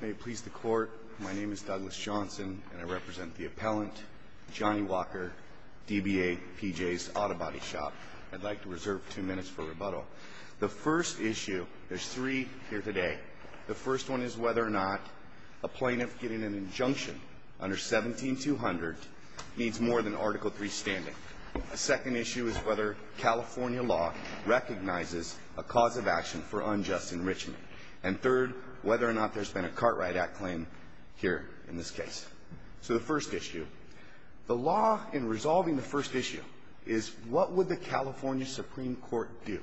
May it please the Court, my name is Douglas Johnson, and I represent the appellant, Johnny Walker, DBA PJ's Auto Body Shop. I'd like to reserve two minutes for rebuttal. The first issue, there's three here today. The first one is whether or not a plaintiff getting an injunction under 17-200 needs more than Article III standing. A second issue is whether California law recognizes a cause of action for unjust enrichment. And third, whether or not there's been a Cartwright Act claim here in this case. So the first issue, the law in resolving the first issue is what would the California Supreme Court do?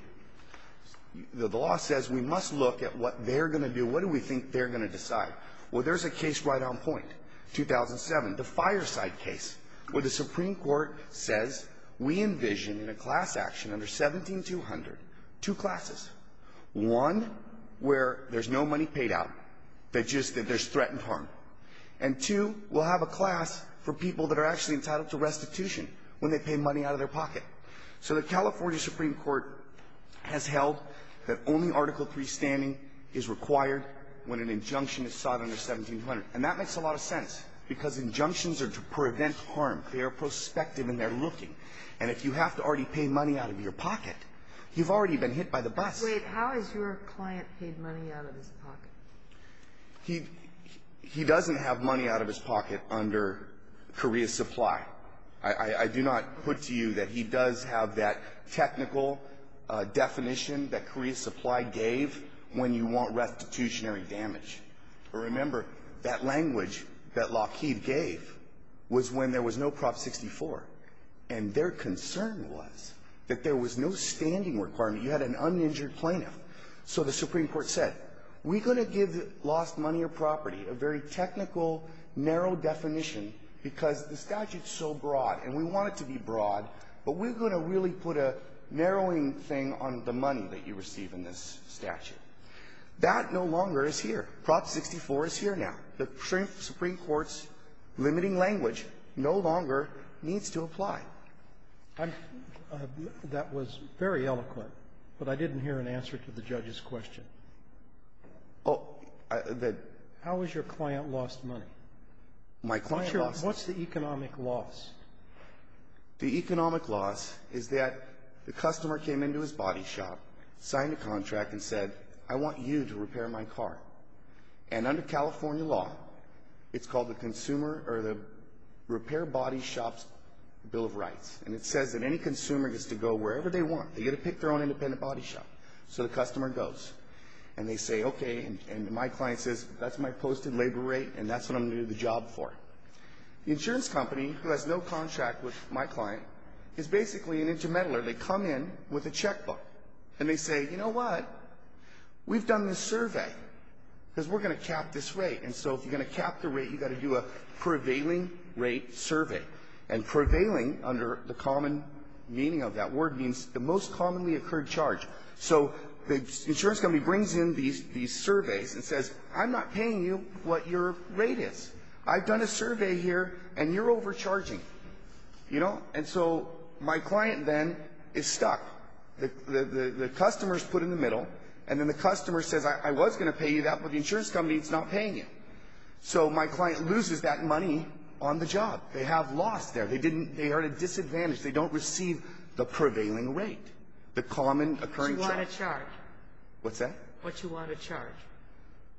The law says we must look at what they're going to do. What do we think they're going to decide? Well, there's a case right on point, 2007, the Fireside case, where the Supreme Court says we envision in a class action under 17-200 two classes. One, where there's no money paid out, just that there's threatened harm. And two, we'll have a class for people that are actually entitled to restitution when they pay money out of their pocket. So the California Supreme Court has held that only Article III standing is required when an injunction is sought under 17-200. And that makes a lot of sense, because injunctions are to prevent harm. They are prospective and they're looking. And if you have to already pay money out of your pocket, you've already been hit by the bus. Wait. How has your client paid money out of his pocket? He doesn't have money out of his pocket under career supply. I do not put to you that he does have that technical definition that career supply gave when you want restitutionary damage. Remember, that language that Lockheed gave was when there was no Prop 64, and their concern was that there was no standing requirement. You had an uninjured plaintiff. So the Supreme Court said, we're going to give lost money or property a very technical, narrow definition because the statute's so broad, and we want it to be broad, but we're going to really put a narrowing thing on the money that you receive in this statute. That no longer is here. Prop 64 is here now. The Supreme Court's limiting language no longer needs to apply. I'm — that was very eloquent, but I didn't hear an answer to the judge's question. Oh, the — How has your client lost money? My client lost — What's the economic loss? The economic loss is that the customer came into his body shop, signed a contract, and said, I want you to repair my car. And under California law, it's called the repair body shop's bill of rights, and it says that any consumer gets to go wherever they want. They get to pick their own independent body shop. So the customer goes, and they say, okay, and my client says, that's my posted labor rate, and that's what I'm going to do the job for. The insurance company, who has no contract with my client, is basically an intermeddler. They come in with a checkbook, and they say, you know what, we've done this survey, because we're going to cap this rate, and so if you're going to cap the rate, you've got to do a prevailing rate survey. And prevailing, under the common meaning of that word, means the most commonly occurred charge. So the insurance company brings in these surveys and says, I'm not paying you what your rate is. I've done a survey here, and you're overcharging. And so my client then is stuck. The customer is put in the middle, and then the customer says, I was going to pay you that, but the insurance company is not paying you. So my client loses that money on the job. They have lost there. They are at a disadvantage. They don't receive the prevailing rate, the common occurring charge. What you want to charge. What you want to charge.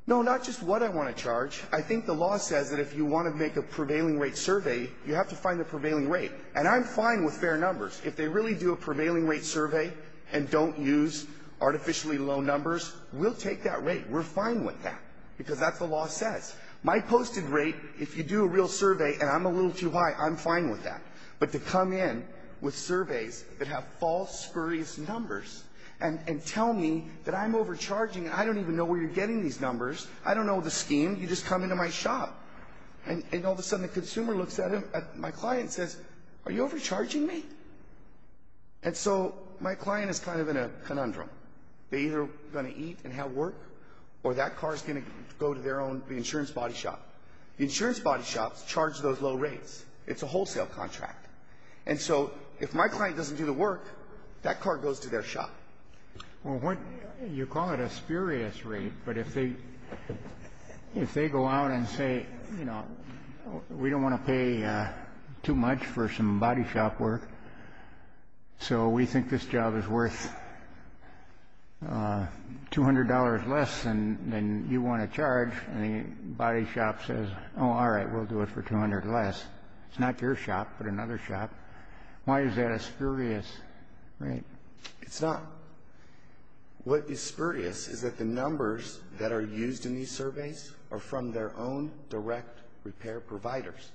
No, not just what I want to charge. I think the law says that if you want to make a prevailing rate survey, you have to find the prevailing rate. And I'm fine with fair numbers. If they really do a prevailing rate survey and don't use artificially low numbers, we'll take that rate. We're fine with that, because that's what the law says. My posted rate, if you do a real survey and I'm a little too high, I'm fine with that. But to come in with surveys that have false, spurious numbers and tell me that I'm overcharging, I don't even know where you're getting these numbers. I don't know the scheme. You just come into my shop. And all of a sudden the consumer looks at my client and says, are you overcharging me? And so my client is kind of in a conundrum. They're either going to eat and have work or that car is going to go to their own insurance body shop. The insurance body shops charge those low rates. It's a wholesale contract. And so if my client doesn't do the work, that car goes to their shop. Well, you call it a spurious rate, but if they go out and say, you know, we don't want to pay too much for some body shop work, so we think this job is worth $200 less than you want to charge, and the body shop says, oh, all right, we'll do it for $200 less. It's not your shop, but another shop. Why is that a spurious rate? It's not. What is spurious is that the numbers that are used in these surveys are from their own direct repair providers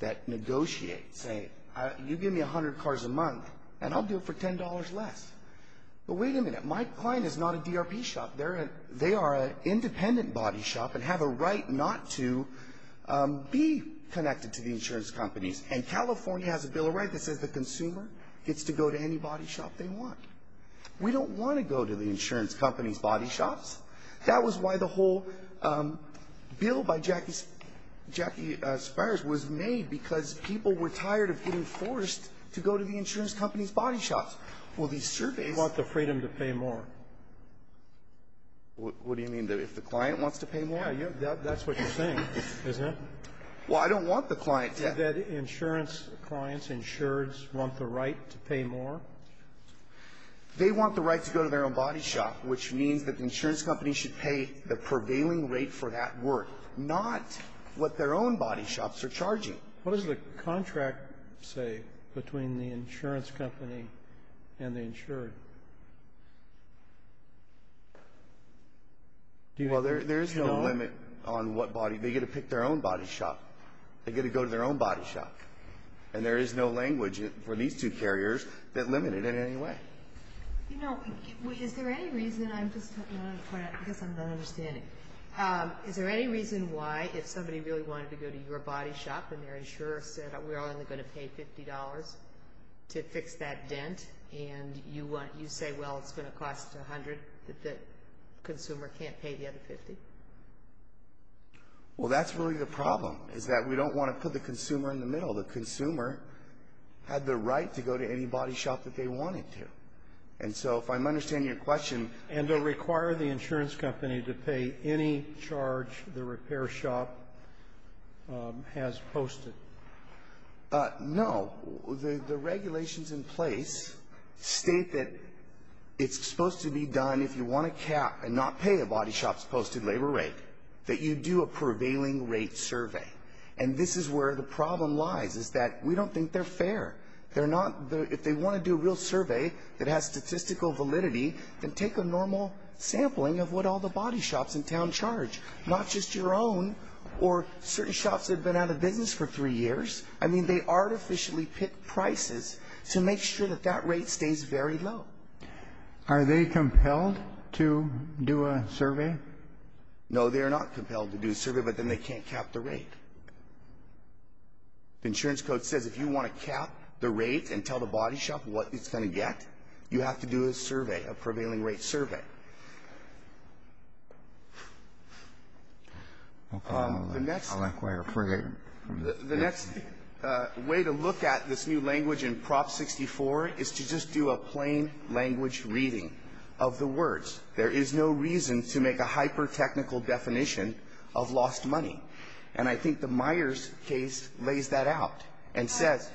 that negotiate saying, you give me 100 cars a month and I'll do it for $10 less. But wait a minute. My client is not a DRP shop. They are an independent body shop and have a right not to be connected to the insurance companies. And California has a bill of rights that says the consumer gets to go to any body shop they want. We don't want to go to the insurance company's body shops. That was why the whole bill by Jackie Spires was made, because people were tired of getting forced to go to the insurance company's body shops. Well, these surveys ---- You want the freedom to pay more. What do you mean? If the client wants to pay more? Yeah. That's what you're saying, isn't it? Well, I don't want the client to ---- Do you think that insurance clients, insureds, want the right to pay more? They want the right to go to their own body shop, which means that the insurance company should pay the prevailing rate for that work, not what their own body shops are charging. What does the contract say between the insurance company and the insured? Well, there's no limit on what body ---- They get to pick their own body shop. They get to go to their own body shop, and there is no language for these two carriers that limit it in any way. You know, is there any reason ---- I'm just going to point out, because I'm not understanding. Is there any reason why, if somebody really wanted to go to your body shop and their insurer said, we're only going to pay $50 to fix that dent, and you say, well, it's going to cost $100, that the consumer can't pay the other $50? Well, that's really the problem, is that we don't want to put the consumer in the middle. The consumer had the right to go to any body shop that they wanted to. And so if I'm understanding your question ---- And to require the insurance company to pay any charge the repair shop has posted? No. The regulations in place state that it's supposed to be done, if you want to cap and not pay a body shop's posted labor rate, that you do a prevailing rate survey. And this is where the problem lies, is that we don't think they're fair. If they want to do a real survey that has statistical validity, then take a normal sampling of what all the body shops in town charge, not just your own or certain shops that have been out of business for three years. I mean, they artificially pick prices to make sure that that rate stays very low. Are they compelled to do a survey? No, they are not compelled to do a survey, but then they can't cap the rate. The insurance code says if you want to cap the rate and tell the body shop what it's going to get, you have to do a survey, a prevailing rate survey. I'll inquire further. The next way to look at this new language in Prop 64 is to just do a plain language reading of the words. There is no reason to make a hyper-technical definition of lost money. And I think the Myers case lays that out and says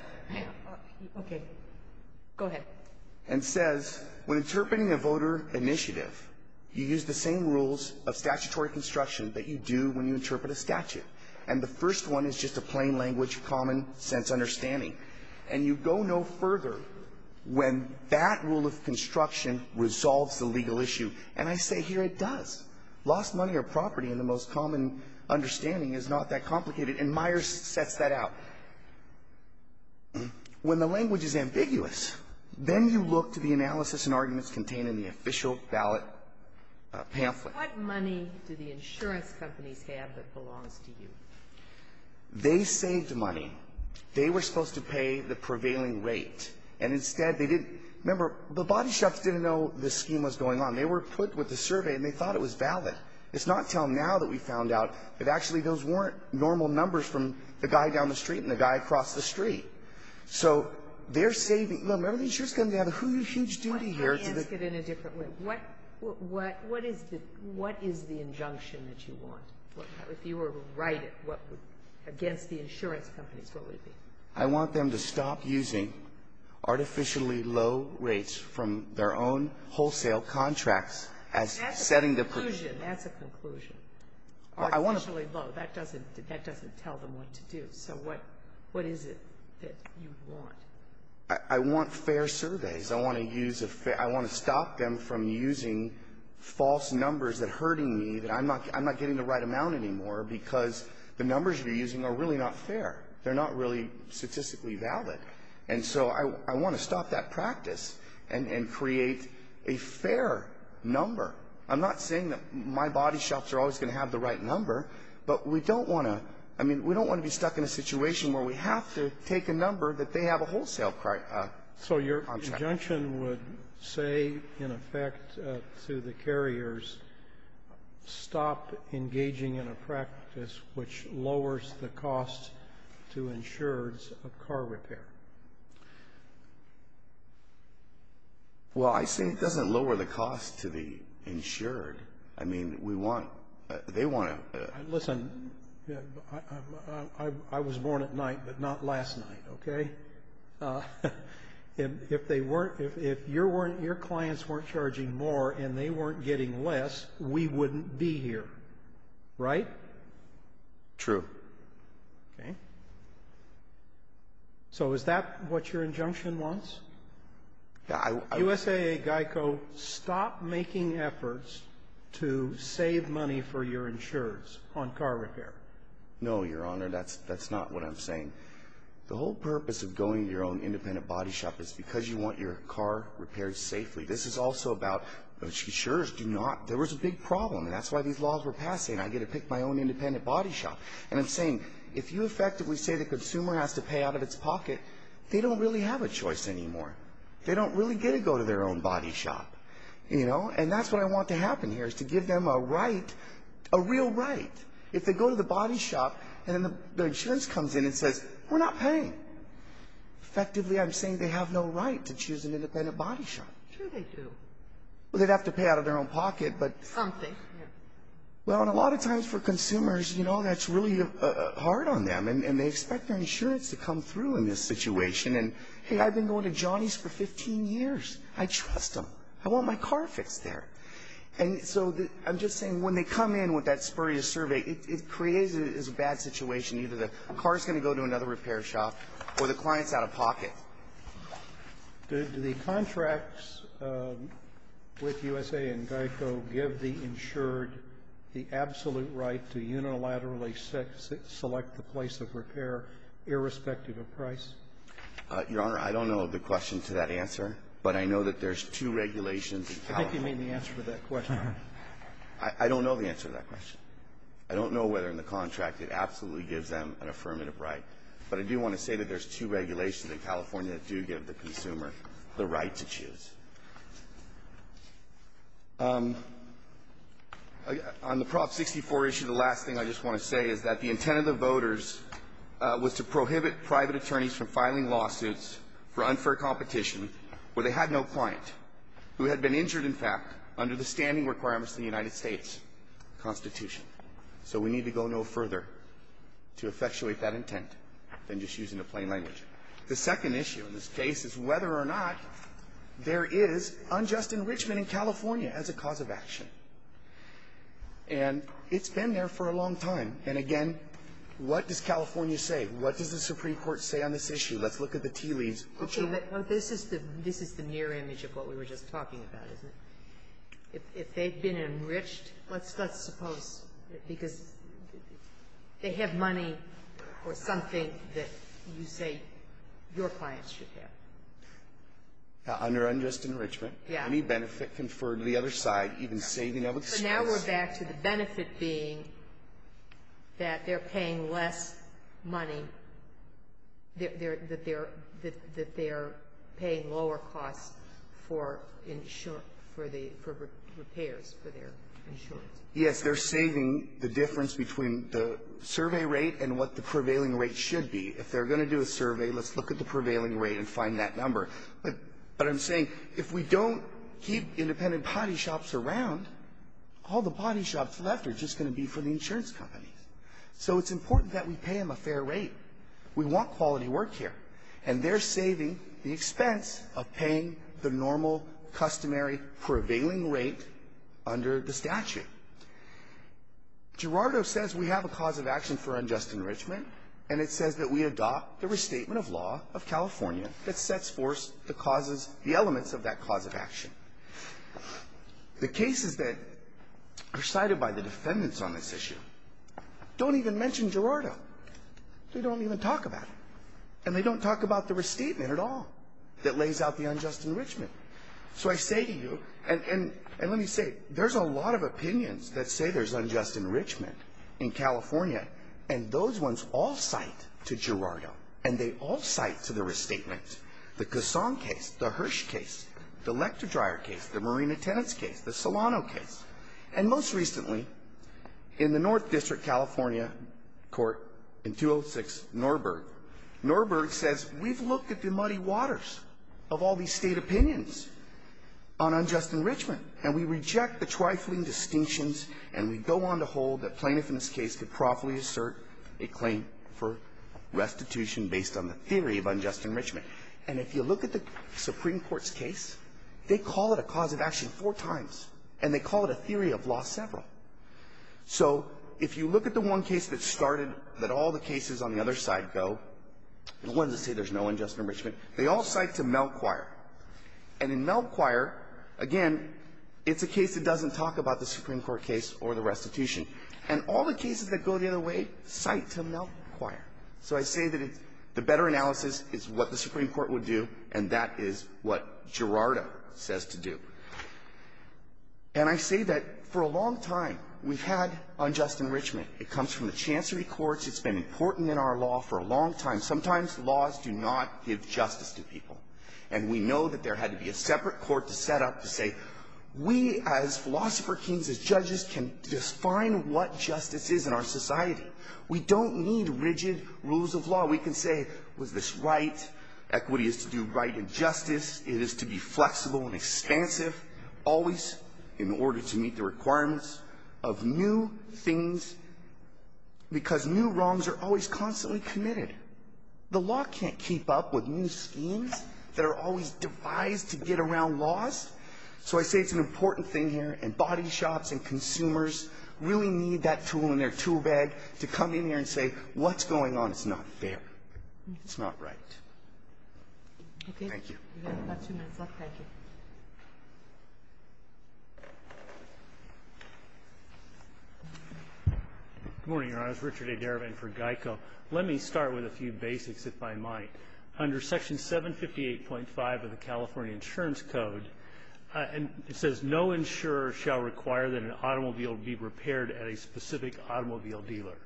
when interpreting a voter initiative, you use the same rules of statutory construction that you do when you interpret a statute. And the first one is just a plain language, common sense understanding. And you go no further when that rule of construction resolves the legal issue. And I say here it does. Lost money or property in the most common understanding is not that complicated, and Myers sets that out. When the language is ambiguous, then you look to the analysis and arguments contained in the official ballot pamphlet. Sotomayor, what money do the insurance companies have that belongs to you? They saved money. They were supposed to pay the prevailing rate. And instead they didn't. Remember, the body shops didn't know the scheme was going on. They were put with the survey and they thought it was valid. It's not until now that we found out that actually those weren't normal numbers from the guy down the street and the guy across the street. So they're saving. Remember, the insurance company had a huge duty here. Sotomayor, let me ask it in a different way. What is the injunction that you want? If you were right, against the insurance companies, what would it be? I want them to stop using artificially low rates from their own wholesale contracts as setting the conclusion. That's a conclusion. Artificially low, that doesn't tell them what to do. So what is it that you want? I want fair surveys. I want to stop them from using false numbers that are hurting me, that I'm not getting the right amount anymore because the numbers you're using are really not fair. They're not really statistically valid. And so I want to stop that practice and create a fair number. I'm not saying that my body shops are always going to have the right number, but we don't want to be stuck in a situation where we have to take a number that they have a wholesale contract. So your injunction would say, in effect, to the carriers, stop engaging in a practice which lowers the cost to insureds of car repair. Well, I say it doesn't lower the cost to the insured. I mean, we want to they want to. Listen, I was born at night, but not last night, okay? If your clients weren't charging more and they weren't getting less, we wouldn't be here, right? True. Okay. So is that what your injunction wants? U.S.A. Geico, stop making efforts to save money for your insurers on car repair. No, Your Honor. That's not what I'm saying. The whole purpose of going to your own independent body shop is because you want your car repaired safely. This is also about insurers do not. There was a big problem, and that's why these laws were passed saying I get to pick my own independent body shop. And I'm saying if you effectively say the consumer has to pay out of its pocket, they don't really have a choice anymore. They don't really get to go to their own body shop. You know? And that's what I want to happen here is to give them a right, a real right. If they go to the body shop and then the insurance comes in and says, we're not paying, effectively I'm saying they have no right to choose an independent body shop. Sure they do. Well, they'd have to pay out of their own pocket, but. Something. Well, and a lot of times for consumers, you know, that's really hard on them. And they expect their insurance to come through in this situation. And, hey, I've been going to Johnny's for 15 years. I trust them. I want my car fixed there. And so I'm just saying when they come in with that spurious survey, it creates a bad situation. Either the car is going to go to another repair shop or the client is out of pocket. Do the contracts with USA and GEICO give the insured the absolute right to unilaterally select the place of repair irrespective of price? Your Honor, I don't know the question to that answer. But I know that there's two regulations in California. I think you mean the answer to that question. I don't know the answer to that question. I don't know whether in the contract it absolutely gives them an affirmative right. But I do want to say that there's two regulations in California that do give the consumer the right to choose. On the Prop 64 issue, the last thing I just want to say is that the intent of the voters was to prohibit private attorneys from filing lawsuits for unfair competition where they had no client who had been injured, in fact, under the standing requirements of the United States Constitution. So we need to go no further to effectuate that intent than just using the plain language. The second issue in this case is whether or not there is unjust enrichment in California as a cause of action. And it's been there for a long time. And, again, what does California say? What does the Supreme Court say on this issue? Let's look at the tea leaves. Kagan. This is the near image of what we were just talking about, isn't it? If they've been enriched, let's suppose, because they have money or something that you say your clients should have. Under unjust enrichment, any benefit conferred to the other side, even saving of expense. But now we're back to the benefit being that they're paying less money, that they're paying lower costs for insurance, for the repairs for their insurance. Yes. They're saving the difference between the survey rate and what the prevailing rate should be. If they're going to do a survey, let's look at the prevailing rate and find that number. But I'm saying if we don't keep independent potty shops around, all the potty shops left are just going to be for the insurance companies. So it's important that we pay them a fair rate. We want quality work here. And they're saving the expense of paying the normal, customary, prevailing rate under the statute. Girardo says we have a cause of action for unjust enrichment, and it says that we adopt the restatement of law of California that sets forth the causes, the elements of that cause of action. The cases that are cited by the defendants on this issue don't even mention Girardo. They don't even talk about it. And they don't talk about the restatement at all that lays out the unjust enrichment. So I say to you, and let me say, there's a lot of opinions that say there's unjust enrichment in California, and those ones all cite to Girardo, and they all cite to the restatement. The Casson case, the Hirsch case, the Lector-Dryer case, the Marina Tenants case, the Solano case. And most recently, in the North District California court in 206 Norberg, Norberg says we've looked at the muddy waters of all these State opinions on unjust enrichment, and we reject the trifling distinctions, and we go on to hold that plaintiff in this case could properly assert a claim for restitution based on the theory of unjust enrichment. And if you look at the Supreme Court's case, they call it a cause of action four times, and they call it a theory of law several. So if you look at the one case that started that all the cases on the other side go, the ones that say there's no unjust enrichment, they all cite to Melchior. And in Melchior, again, it's a case that doesn't talk about the Supreme Court case or the restitution. And all the cases that go the other way cite to Melchior. So I say that the better analysis is what the Supreme Court would do, and that is what Gerardo says to do. And I say that for a long time, we've had unjust enrichment. It comes from the chancery courts. It's been important in our law for a long time. Sometimes laws do not give justice to people. And we know that there had to be a separate court to set up to say, we as philosopher kings, as judges, can define what justice is in our society. We don't need rigid rules of law. We can say, was this right? Equity is to do right and justice. It is to be flexible and expansive, always in order to meet the requirements of new things, because new wrongs are always constantly committed. The law can't keep up with new schemes that are always devised to get around laws. So I say it's an important thing here. And body shops and consumers really need that tool in their tool bag to come in here and say, what's going on? It's not fair. It's not right. Thank you. Thank you. We've got about two minutes left. Thank you. Good morning, Your Honors. Richard A. Derivan for GEICO. Let me start with a few basics, if I might. Under Section 758.5 of the California Insurance Code, and it says, no insurer shall require that an automobile be repaired at a specific automobile dealer.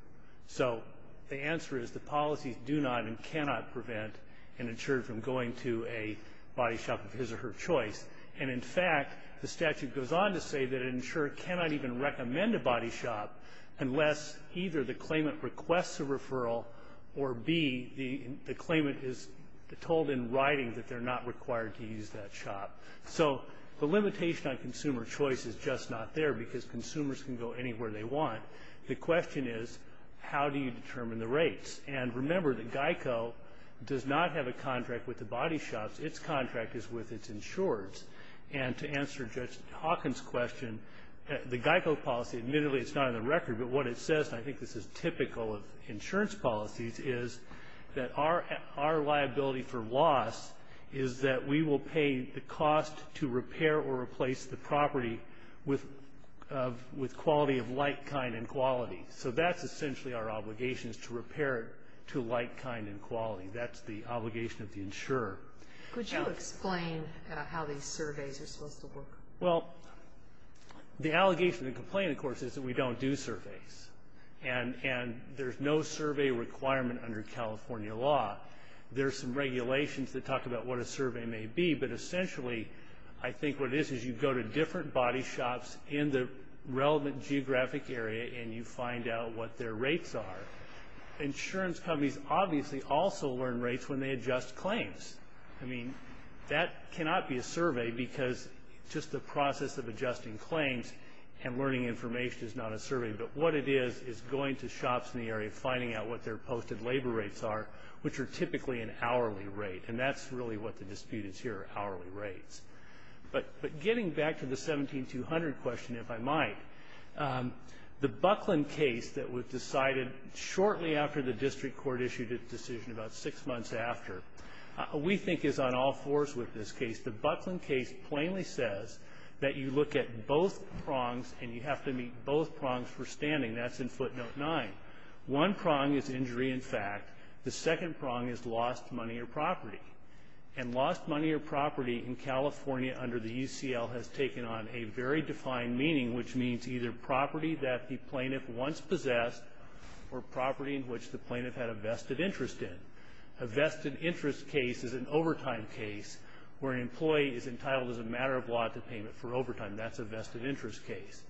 So the answer is the policies do not and cannot prevent an insurer from going to a body shop of his or her choice. And, in fact, the statute goes on to say that an insurer cannot even recommend a body shop unless either the claimant requests a referral or, B, the claimant is told in writing that they're not required to use that shop. So the limitation on consumer choice is just not there, because consumers can go anywhere they want. The question is, how do you determine the rates? And remember that GEICO does not have a contract with the body shops. Its contract is with its insurers. And to answer Judge Hawkins' question, the GEICO policy, admittedly it's not on the record, but what it says, and I think this is typical of insurance policies, is that our liability for loss is that we will pay the cost to repair or replace the property with quality of like kind and quality. So that's essentially our obligation is to repair it to like kind and quality. That's the obligation of the insurer. Could you explain how these surveys are supposed to work? Well, the allegation and complaint, of course, is that we don't do surveys. And there's no survey requirement under California law. There's some regulations that talk about what a survey may be. But essentially, I think what it is, is you go to different body shops in the relevant geographic area and you find out what their rates are. Insurance companies obviously also learn rates when they adjust claims. I mean, that cannot be a survey, because just the process of adjusting claims and learning information is not a survey. But what it is, is going to shops in the area, finding out what their posted labor rates are, which are typically an hourly rate. And that's really what the dispute is here, hourly rates. But getting back to the 17200 question, if I might, the Buckland case that was decided shortly after the district court issued its decision, about six months after, we think is on all fours with this case. The Buckland case plainly says that you look at both prongs and you have to meet both prongs for standing. That's in footnote nine. One prong is injury in fact. The second prong is lost money or property. And lost money or property in California under the UCL has taken on a very defined meaning, which means either property that the plaintiff once possessed or property in which the plaintiff had a vested interest in. A vested interest case is an overtime case where an employee is entitled as a matter of law to payment for overtime. That's a vested interest case.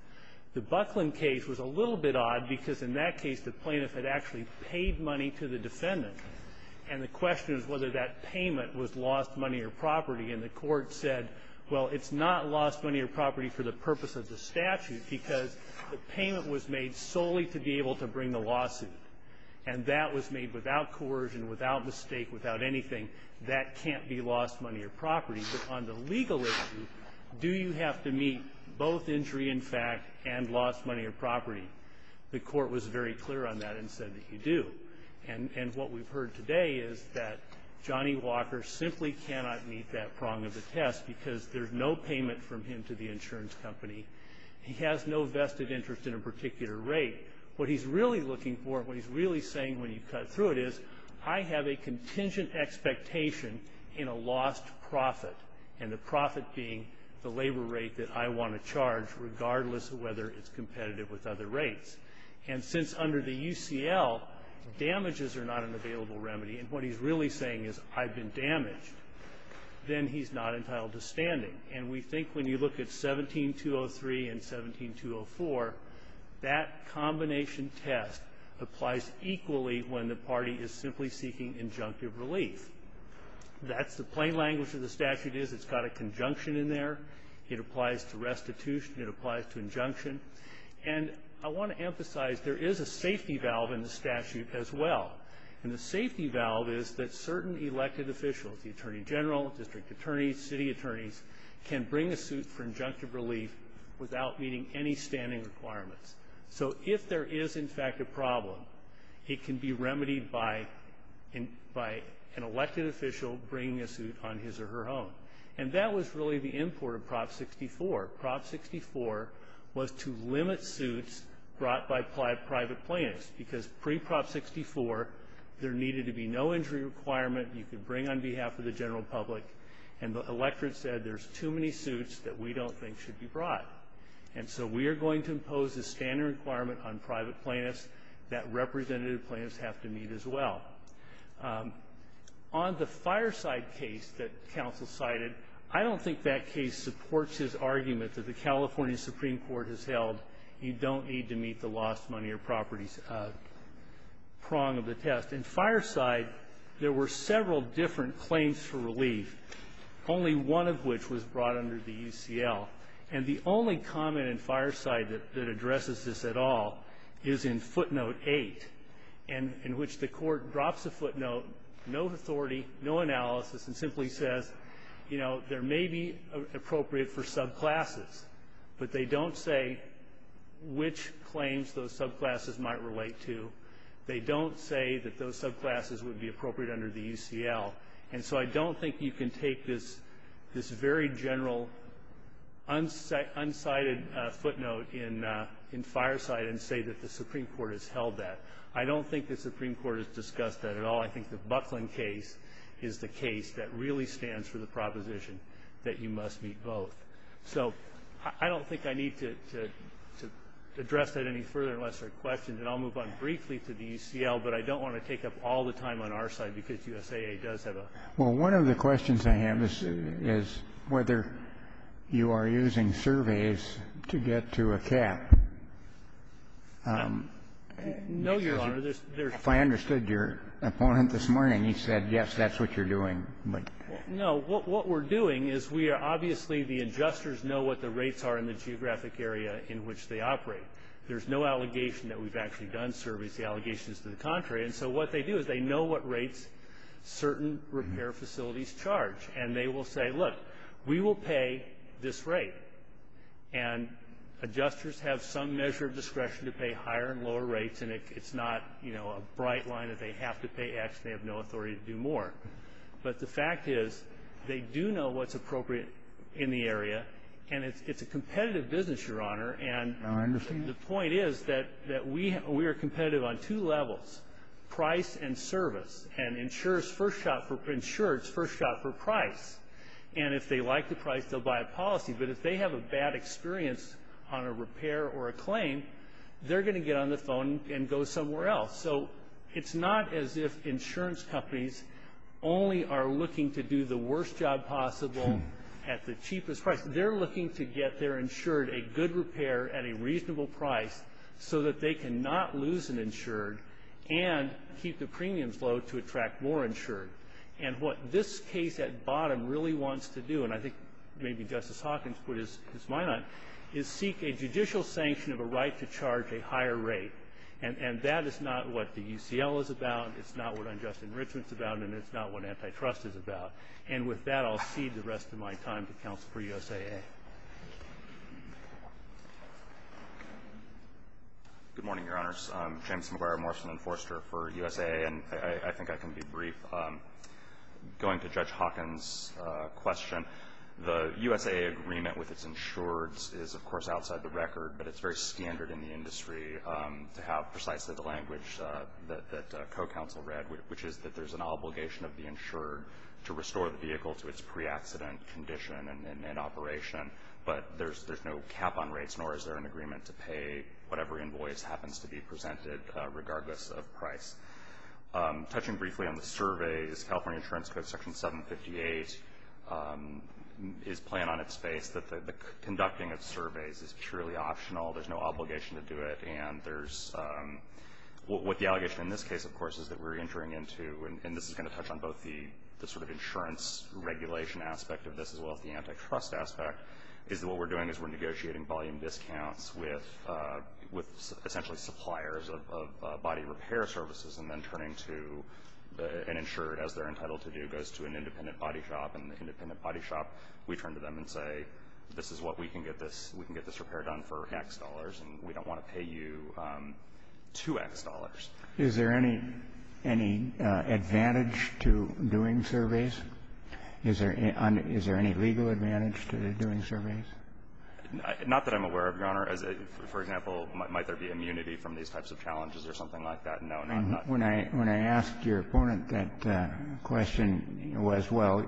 The Buckland case was a little bit odd, because in that case the plaintiff had actually paid money to the defendant. And the question is whether that payment was lost money or property. And the court said, well, it's not lost money or property for the purpose of the statute, because the payment was made solely to be able to bring the lawsuit. And that was made without coercion, without mistake, without anything. That can't be lost money or property. But on the legal issue, do you have to meet both injury in fact and lost money or property? The court was very clear on that and said that you do. And what we've heard today is that Johnny Walker simply cannot meet that prong of the test, because there's no payment from him to the insurance company. He has no vested interest in a particular rate. What he's really looking for, what he's really saying when you cut through it is, I have a contingent expectation in a lost profit, and the profit being the labor rate that I want to charge, regardless of whether it's competitive with other rates. And since under the UCL, damages are not an available remedy, and what he's really saying is I've been damaged, then he's not entitled to standing. And we think when you look at 17-203 and 17-204, that combination test applies equally when the party is simply seeking injunctive relief. That's the plain language of the statute is it's got a conjunction in there. It applies to restitution. It applies to injunction. And I want to emphasize there is a safety valve in the statute as well. And the safety valve is that certain elected officials, the attorney general, district attorneys, city attorneys, can bring a suit for injunctive relief without meeting any standing requirements. So if there is, in fact, a problem, it can be remedied by an elected official bringing a suit on his or her own. And that was really the import of Prop 64. Prop 64 was to limit suits brought by private plaintiffs because pre-Prop 64, there needed to be no injury requirement you could bring on behalf of the general public, and the electorate said there's too many suits that we don't think should be brought. And so we are going to impose a standing requirement on private plaintiffs that representative plaintiffs have to meet as well. On the Fireside case that counsel cited, I don't think that case supports his argument that the California Supreme Court has held you don't need to meet the lost money or properties prong of the test. In Fireside, there were several different claims for relief, only one of which was brought under the UCL. And the only comment in Fireside that addresses this at all is in footnote 8, in which the court drops a footnote, no authority, no analysis, and simply says, you know, there may be appropriate for subclasses, but they don't say which claims those subclasses might relate to. They don't say that those subclasses would be appropriate under the UCL. And so I don't think you can take this very general, unsighted footnote in Fireside and say that the Supreme Court has held that. I don't think the Supreme Court has discussed that at all. I think the Buckland case is the case that really stands for the proposition that you must meet both. So I don't think I need to address that any further unless there are questions. And I'll move on briefly to the UCL, but I don't want to take up all the time on our side because USAA does have a question. One of the questions I have is whether you are using surveys to get to a cap. No, Your Honor. If I understood your opponent this morning, he said, yes, that's what you're doing. No. What we're doing is we are obviously, the adjusters know what the rates are in the geographic area in which they operate. There's no allegation that we've actually done surveys. The allegation is to the contrary. And so what they do is they know what rates certain repair facilities charge, and they will say, look, we will pay this rate. And adjusters have some measure of discretion to pay higher and lower rates, and it's not, you know, a bright line that they have to pay X. They have no authority to do more. But the fact is they do know what's appropriate in the area, and it's a competitive business, Your Honor. And the point is that we are competitive on two levels. Price and service. And insurers first shot for price. And if they like the price, they'll buy a policy. But if they have a bad experience on a repair or a claim, they're going to get on the phone and go somewhere else. So it's not as if insurance companies only are looking to do the worst job possible at the cheapest price. They're looking to get their insured a good repair at a reasonable price so that they cannot lose an insured and keep the premiums low to attract more insured. And what this case at bottom really wants to do, and I think maybe Justice Hawkins put his mind on it, is seek a judicial sanction of a right to charge a higher rate. And that is not what the UCL is about. It's not what unjust enrichment is about, and it's not what antitrust is about. And with that, I'll cede the rest of my time to counsel for USAA. Good morning, Your Honors. I'm James McGuire, Morrison Enforcer for USAA, and I think I can be brief. Going to Judge Hawkins' question, the USAA agreement with its insurers is, of course, outside the record, but it's very standard in the industry to have precisely the language that co-counsel read, which is that there's an obligation of the insurer to restore the vehicle to its pre-accident condition and in operation, but there's no cap on rates, nor is there an agreement to pay whatever invoice happens to be presented regardless of price. Touching briefly on the surveys, California Insurance Code Section 758 is plain on its face that the conducting of surveys is purely optional. There's no obligation to do it. What the allegation in this case, of course, is that we're entering into, and this is going to touch on both the sort of insurance regulation aspect of this as well as the antitrust aspect, is that what we're doing is we're negotiating volume discounts with essentially suppliers of body repair services and then turning to an insurer, as they're entitled to do, goes to an independent body shop, and the independent body shop, we turn to them and say, this is what we can get this repair done for X dollars, and we don't want to pay you 2X dollars. Is there any advantage to doing surveys? Is there any legal advantage to doing surveys? Not that I'm aware of, Your Honor. For example, might there be immunity from these types of challenges or something like that? No, not at all. When I asked your opponent that question, it was, well,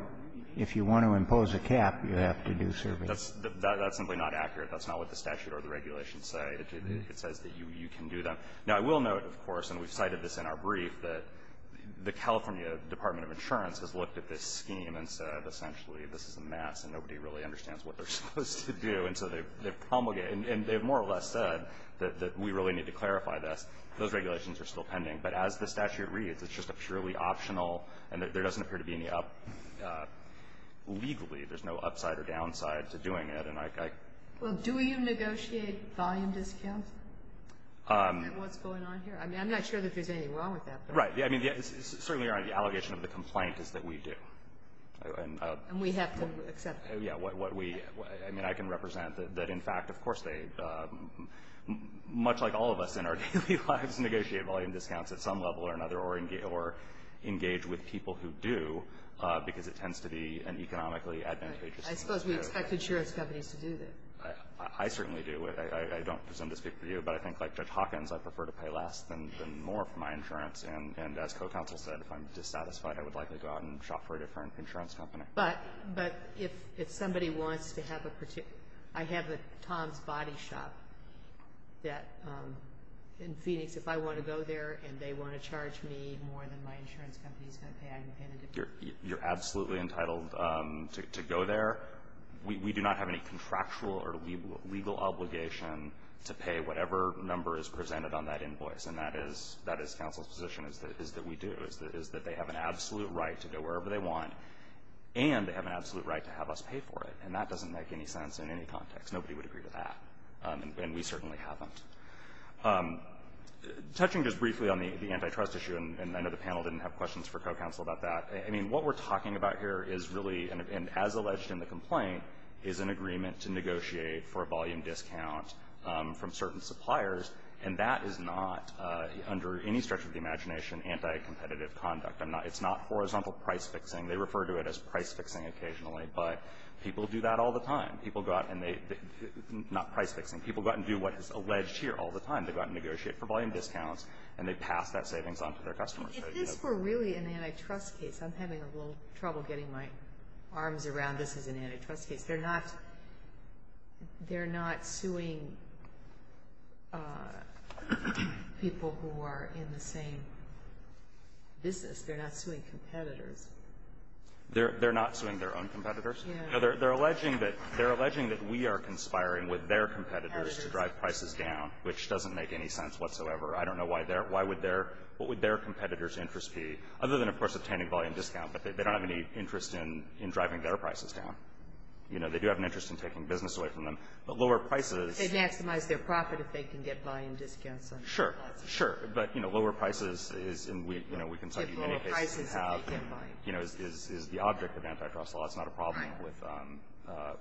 if you want to impose a cap, you have to do surveys. That's simply not accurate. That's not what the statute or the regulations say. It says that you can do them. Now, I will note, of course, and we've cited this in our brief, that the California Department of Insurance has looked at this scheme and said essentially this is a mess and nobody really understands what they're supposed to do, and so they promulgate it, and they've more or less said that we really need to clarify this. Those regulations are still pending. But as the statute reads, it's just a purely optional, and there doesn't appear to be any up legally. There's no upside or downside to doing it. Well, do you negotiate volume discounts? What's going on here? I mean, I'm not sure that there's anything wrong with that. Right. Certainly, Your Honor, the allegation of the complaint is that we do. And we have to accept that. Yeah. I mean, I can represent that, in fact, of course, much like all of us in our daily lives negotiate volume discounts at some level or another or engage with people who do, because it tends to be an economically advantageous thing. I suppose we expect insurance companies to do that. I certainly do. I don't presume to speak for you, but I think like Judge Hawkins, I prefer to pay less than more for my insurance. And as co-counsel said, if I'm dissatisfied, I would likely go out and shop for a different insurance company. But if somebody wants to have a particular – I have a Tom's Body shop that in Phoenix, if I want to go there and they want to charge me more than my insurance company is going to pay, I can pay in a different way. You're absolutely entitled to go there. We do not have any contractual or legal obligation to pay whatever number is presented on that invoice. And that is counsel's position, is that we do, is that they have an absolute right to go wherever they want, and they have an absolute right to have us pay for it. And that doesn't make any sense in any context. Nobody would agree to that. And we certainly haven't. Touching just briefly on the antitrust issue, and I know the panel didn't have questions for co-counsel about that, I mean, what we're talking about here is really, and as alleged in the complaint, is an agreement to negotiate for a volume discount from certain suppliers. And that is not, under any stretch of the imagination, anti-competitive conduct. It's not horizontal price-fixing. They refer to it as price-fixing occasionally. But people do that all the time. People go out and they, not price-fixing, people go out and do what is alleged here all the time. They go out and negotiate for volume discounts, and they pass that savings on to their customers. If this were really an antitrust case, I'm having a little trouble getting my arms around this as an antitrust case. They're not suing people who are in the same business. They're not suing competitors. They're not suing their own competitors? No. They're alleging that we are conspiring with their competitors to drive prices down, which doesn't make any sense whatsoever. I don't know why their, why would their, what would their competitors' interest be, other than, of course, obtaining volume discount. But they don't have any interest in driving their prices down. You know, they do have an interest in taking business away from them. But lower prices… They maximize their profit if they can get volume discounts on their products. Sure. Sure. But, you know, lower prices is, and we, you know, we can tell you any case you have… They have lower prices if they can't buy it. You know, is the object of antitrust law. It's not a problem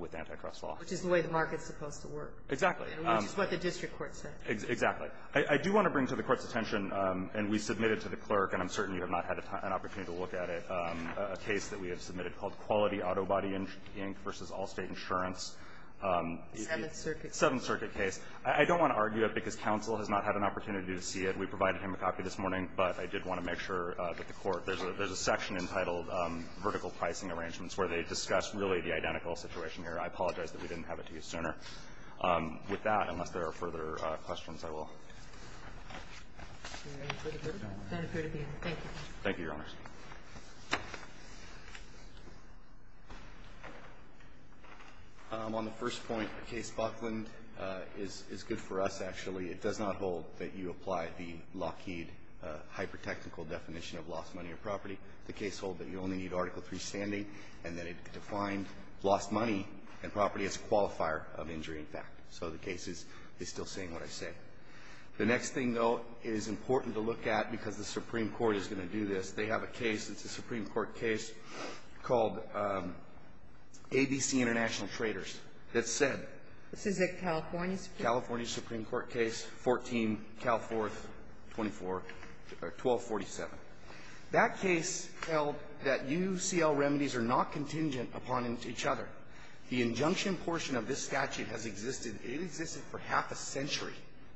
with antitrust law. Right. Which is the way the market is supposed to work. Exactly. Which is what the district court said. Exactly. I do want to bring to the Court's attention, and we submitted to the clerk, and I'm certain you have not had an opportunity to look at it, a case that we have submitted called Quality Auto Body Inc. v. Allstate Insurance. The Seventh Circuit case. The Seventh Circuit case. I don't want to argue it because counsel has not had an opportunity to see it. We provided him a copy this morning, but I did want to make sure that the Court… There's a section entitled Vertical Pricing Arrangements where they discuss really the identical situation here. I apologize that we didn't have it to you sooner. With that, unless there are further questions, I will. Thank you, Your Honors. On the first point, the case Buckland is good for us, actually. It does not hold that you apply the Lockheed hypertechnical definition of lost money or property. The case holds that you only need Article III standing and that it defined lost money and property as a qualifier of injury in fact. So the case is still saying what I said. The next thing, though, is important to look at because the Supreme Court is going to do this. They have a case. It's a Supreme Court case called ABC International Traders that said… This is a California Supreme Court case? California Supreme Court case 14, Cal 4th, 1247. That case held that UCL remedies are not contingent upon each other. The injunction portion of this statute has existed. It existed for half a century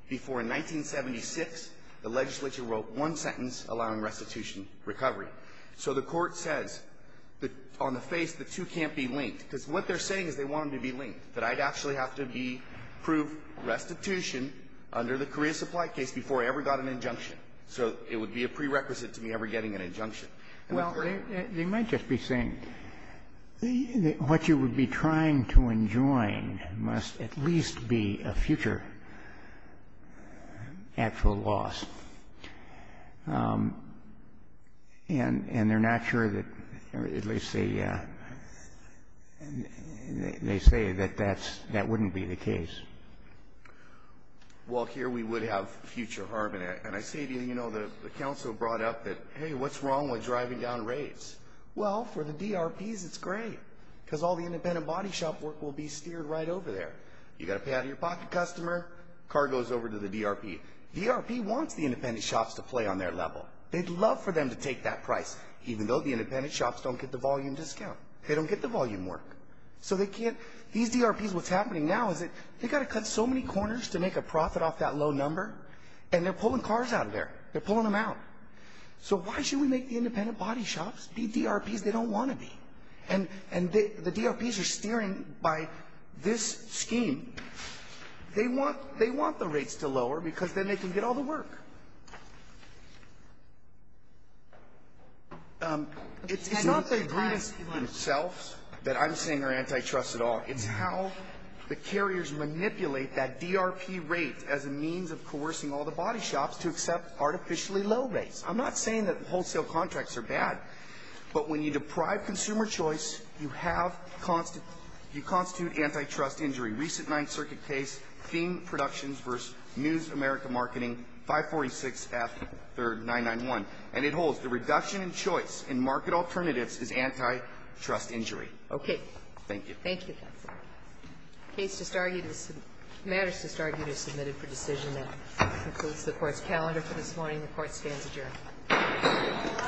before in 1976 the legislature wrote one sentence allowing restitution recovery. So the Court says that on the face, the two can't be linked, because what they're saying is they want them to be linked, that I'd actually have to be proved restitution under the career supply case before I ever got an injunction. So it would be a prerequisite to me ever getting an injunction. Well, they might just be saying what you would be trying to enjoin must at least be a future actual loss. And they're not sure that at least they say that that wouldn't be the case. Well, here we would have future harm. And I say to you, you know, the counsel brought up that, hey, what's wrong with driving down rates? Well, for the DRPs, it's great, because all the independent body shop work will be steered right over there. You've got to pay out of your pocket customer, car goes over to the DRP. DRP wants the independent shops to play on their level. They'd love for them to take that price, even though the independent shops don't get the volume discount. They don't get the volume work. So they can't… These DRPs, what's happening now is that they've got to cut so many corners to make a profit off that low number, and they're pulling cars out of there. They're pulling them out. So why should we make the independent body shops be DRPs they don't want to be? And the DRPs are steering by this scheme. They want the rates to lower, because then they can get all the work. It's not the agreements themselves that I'm saying are antitrust at all. It's how the carriers manipulate that DRP rate as a means of coercing all the body shops to accept artificially low rates. I'm not saying that wholesale contracts are bad, but when you deprive consumer choice, you have… you constitute antitrust injury. Recent Ninth Circuit case, Theme Productions v. News America Marketing, 546F991. And it holds. The reduction in choice in market alternatives is antitrust injury. Okay. Thank you. Thank you, counsel. The case just argued is… matters just argued are submitted for decision. That concludes the Court's calendar for this morning. The Court stands adjourned.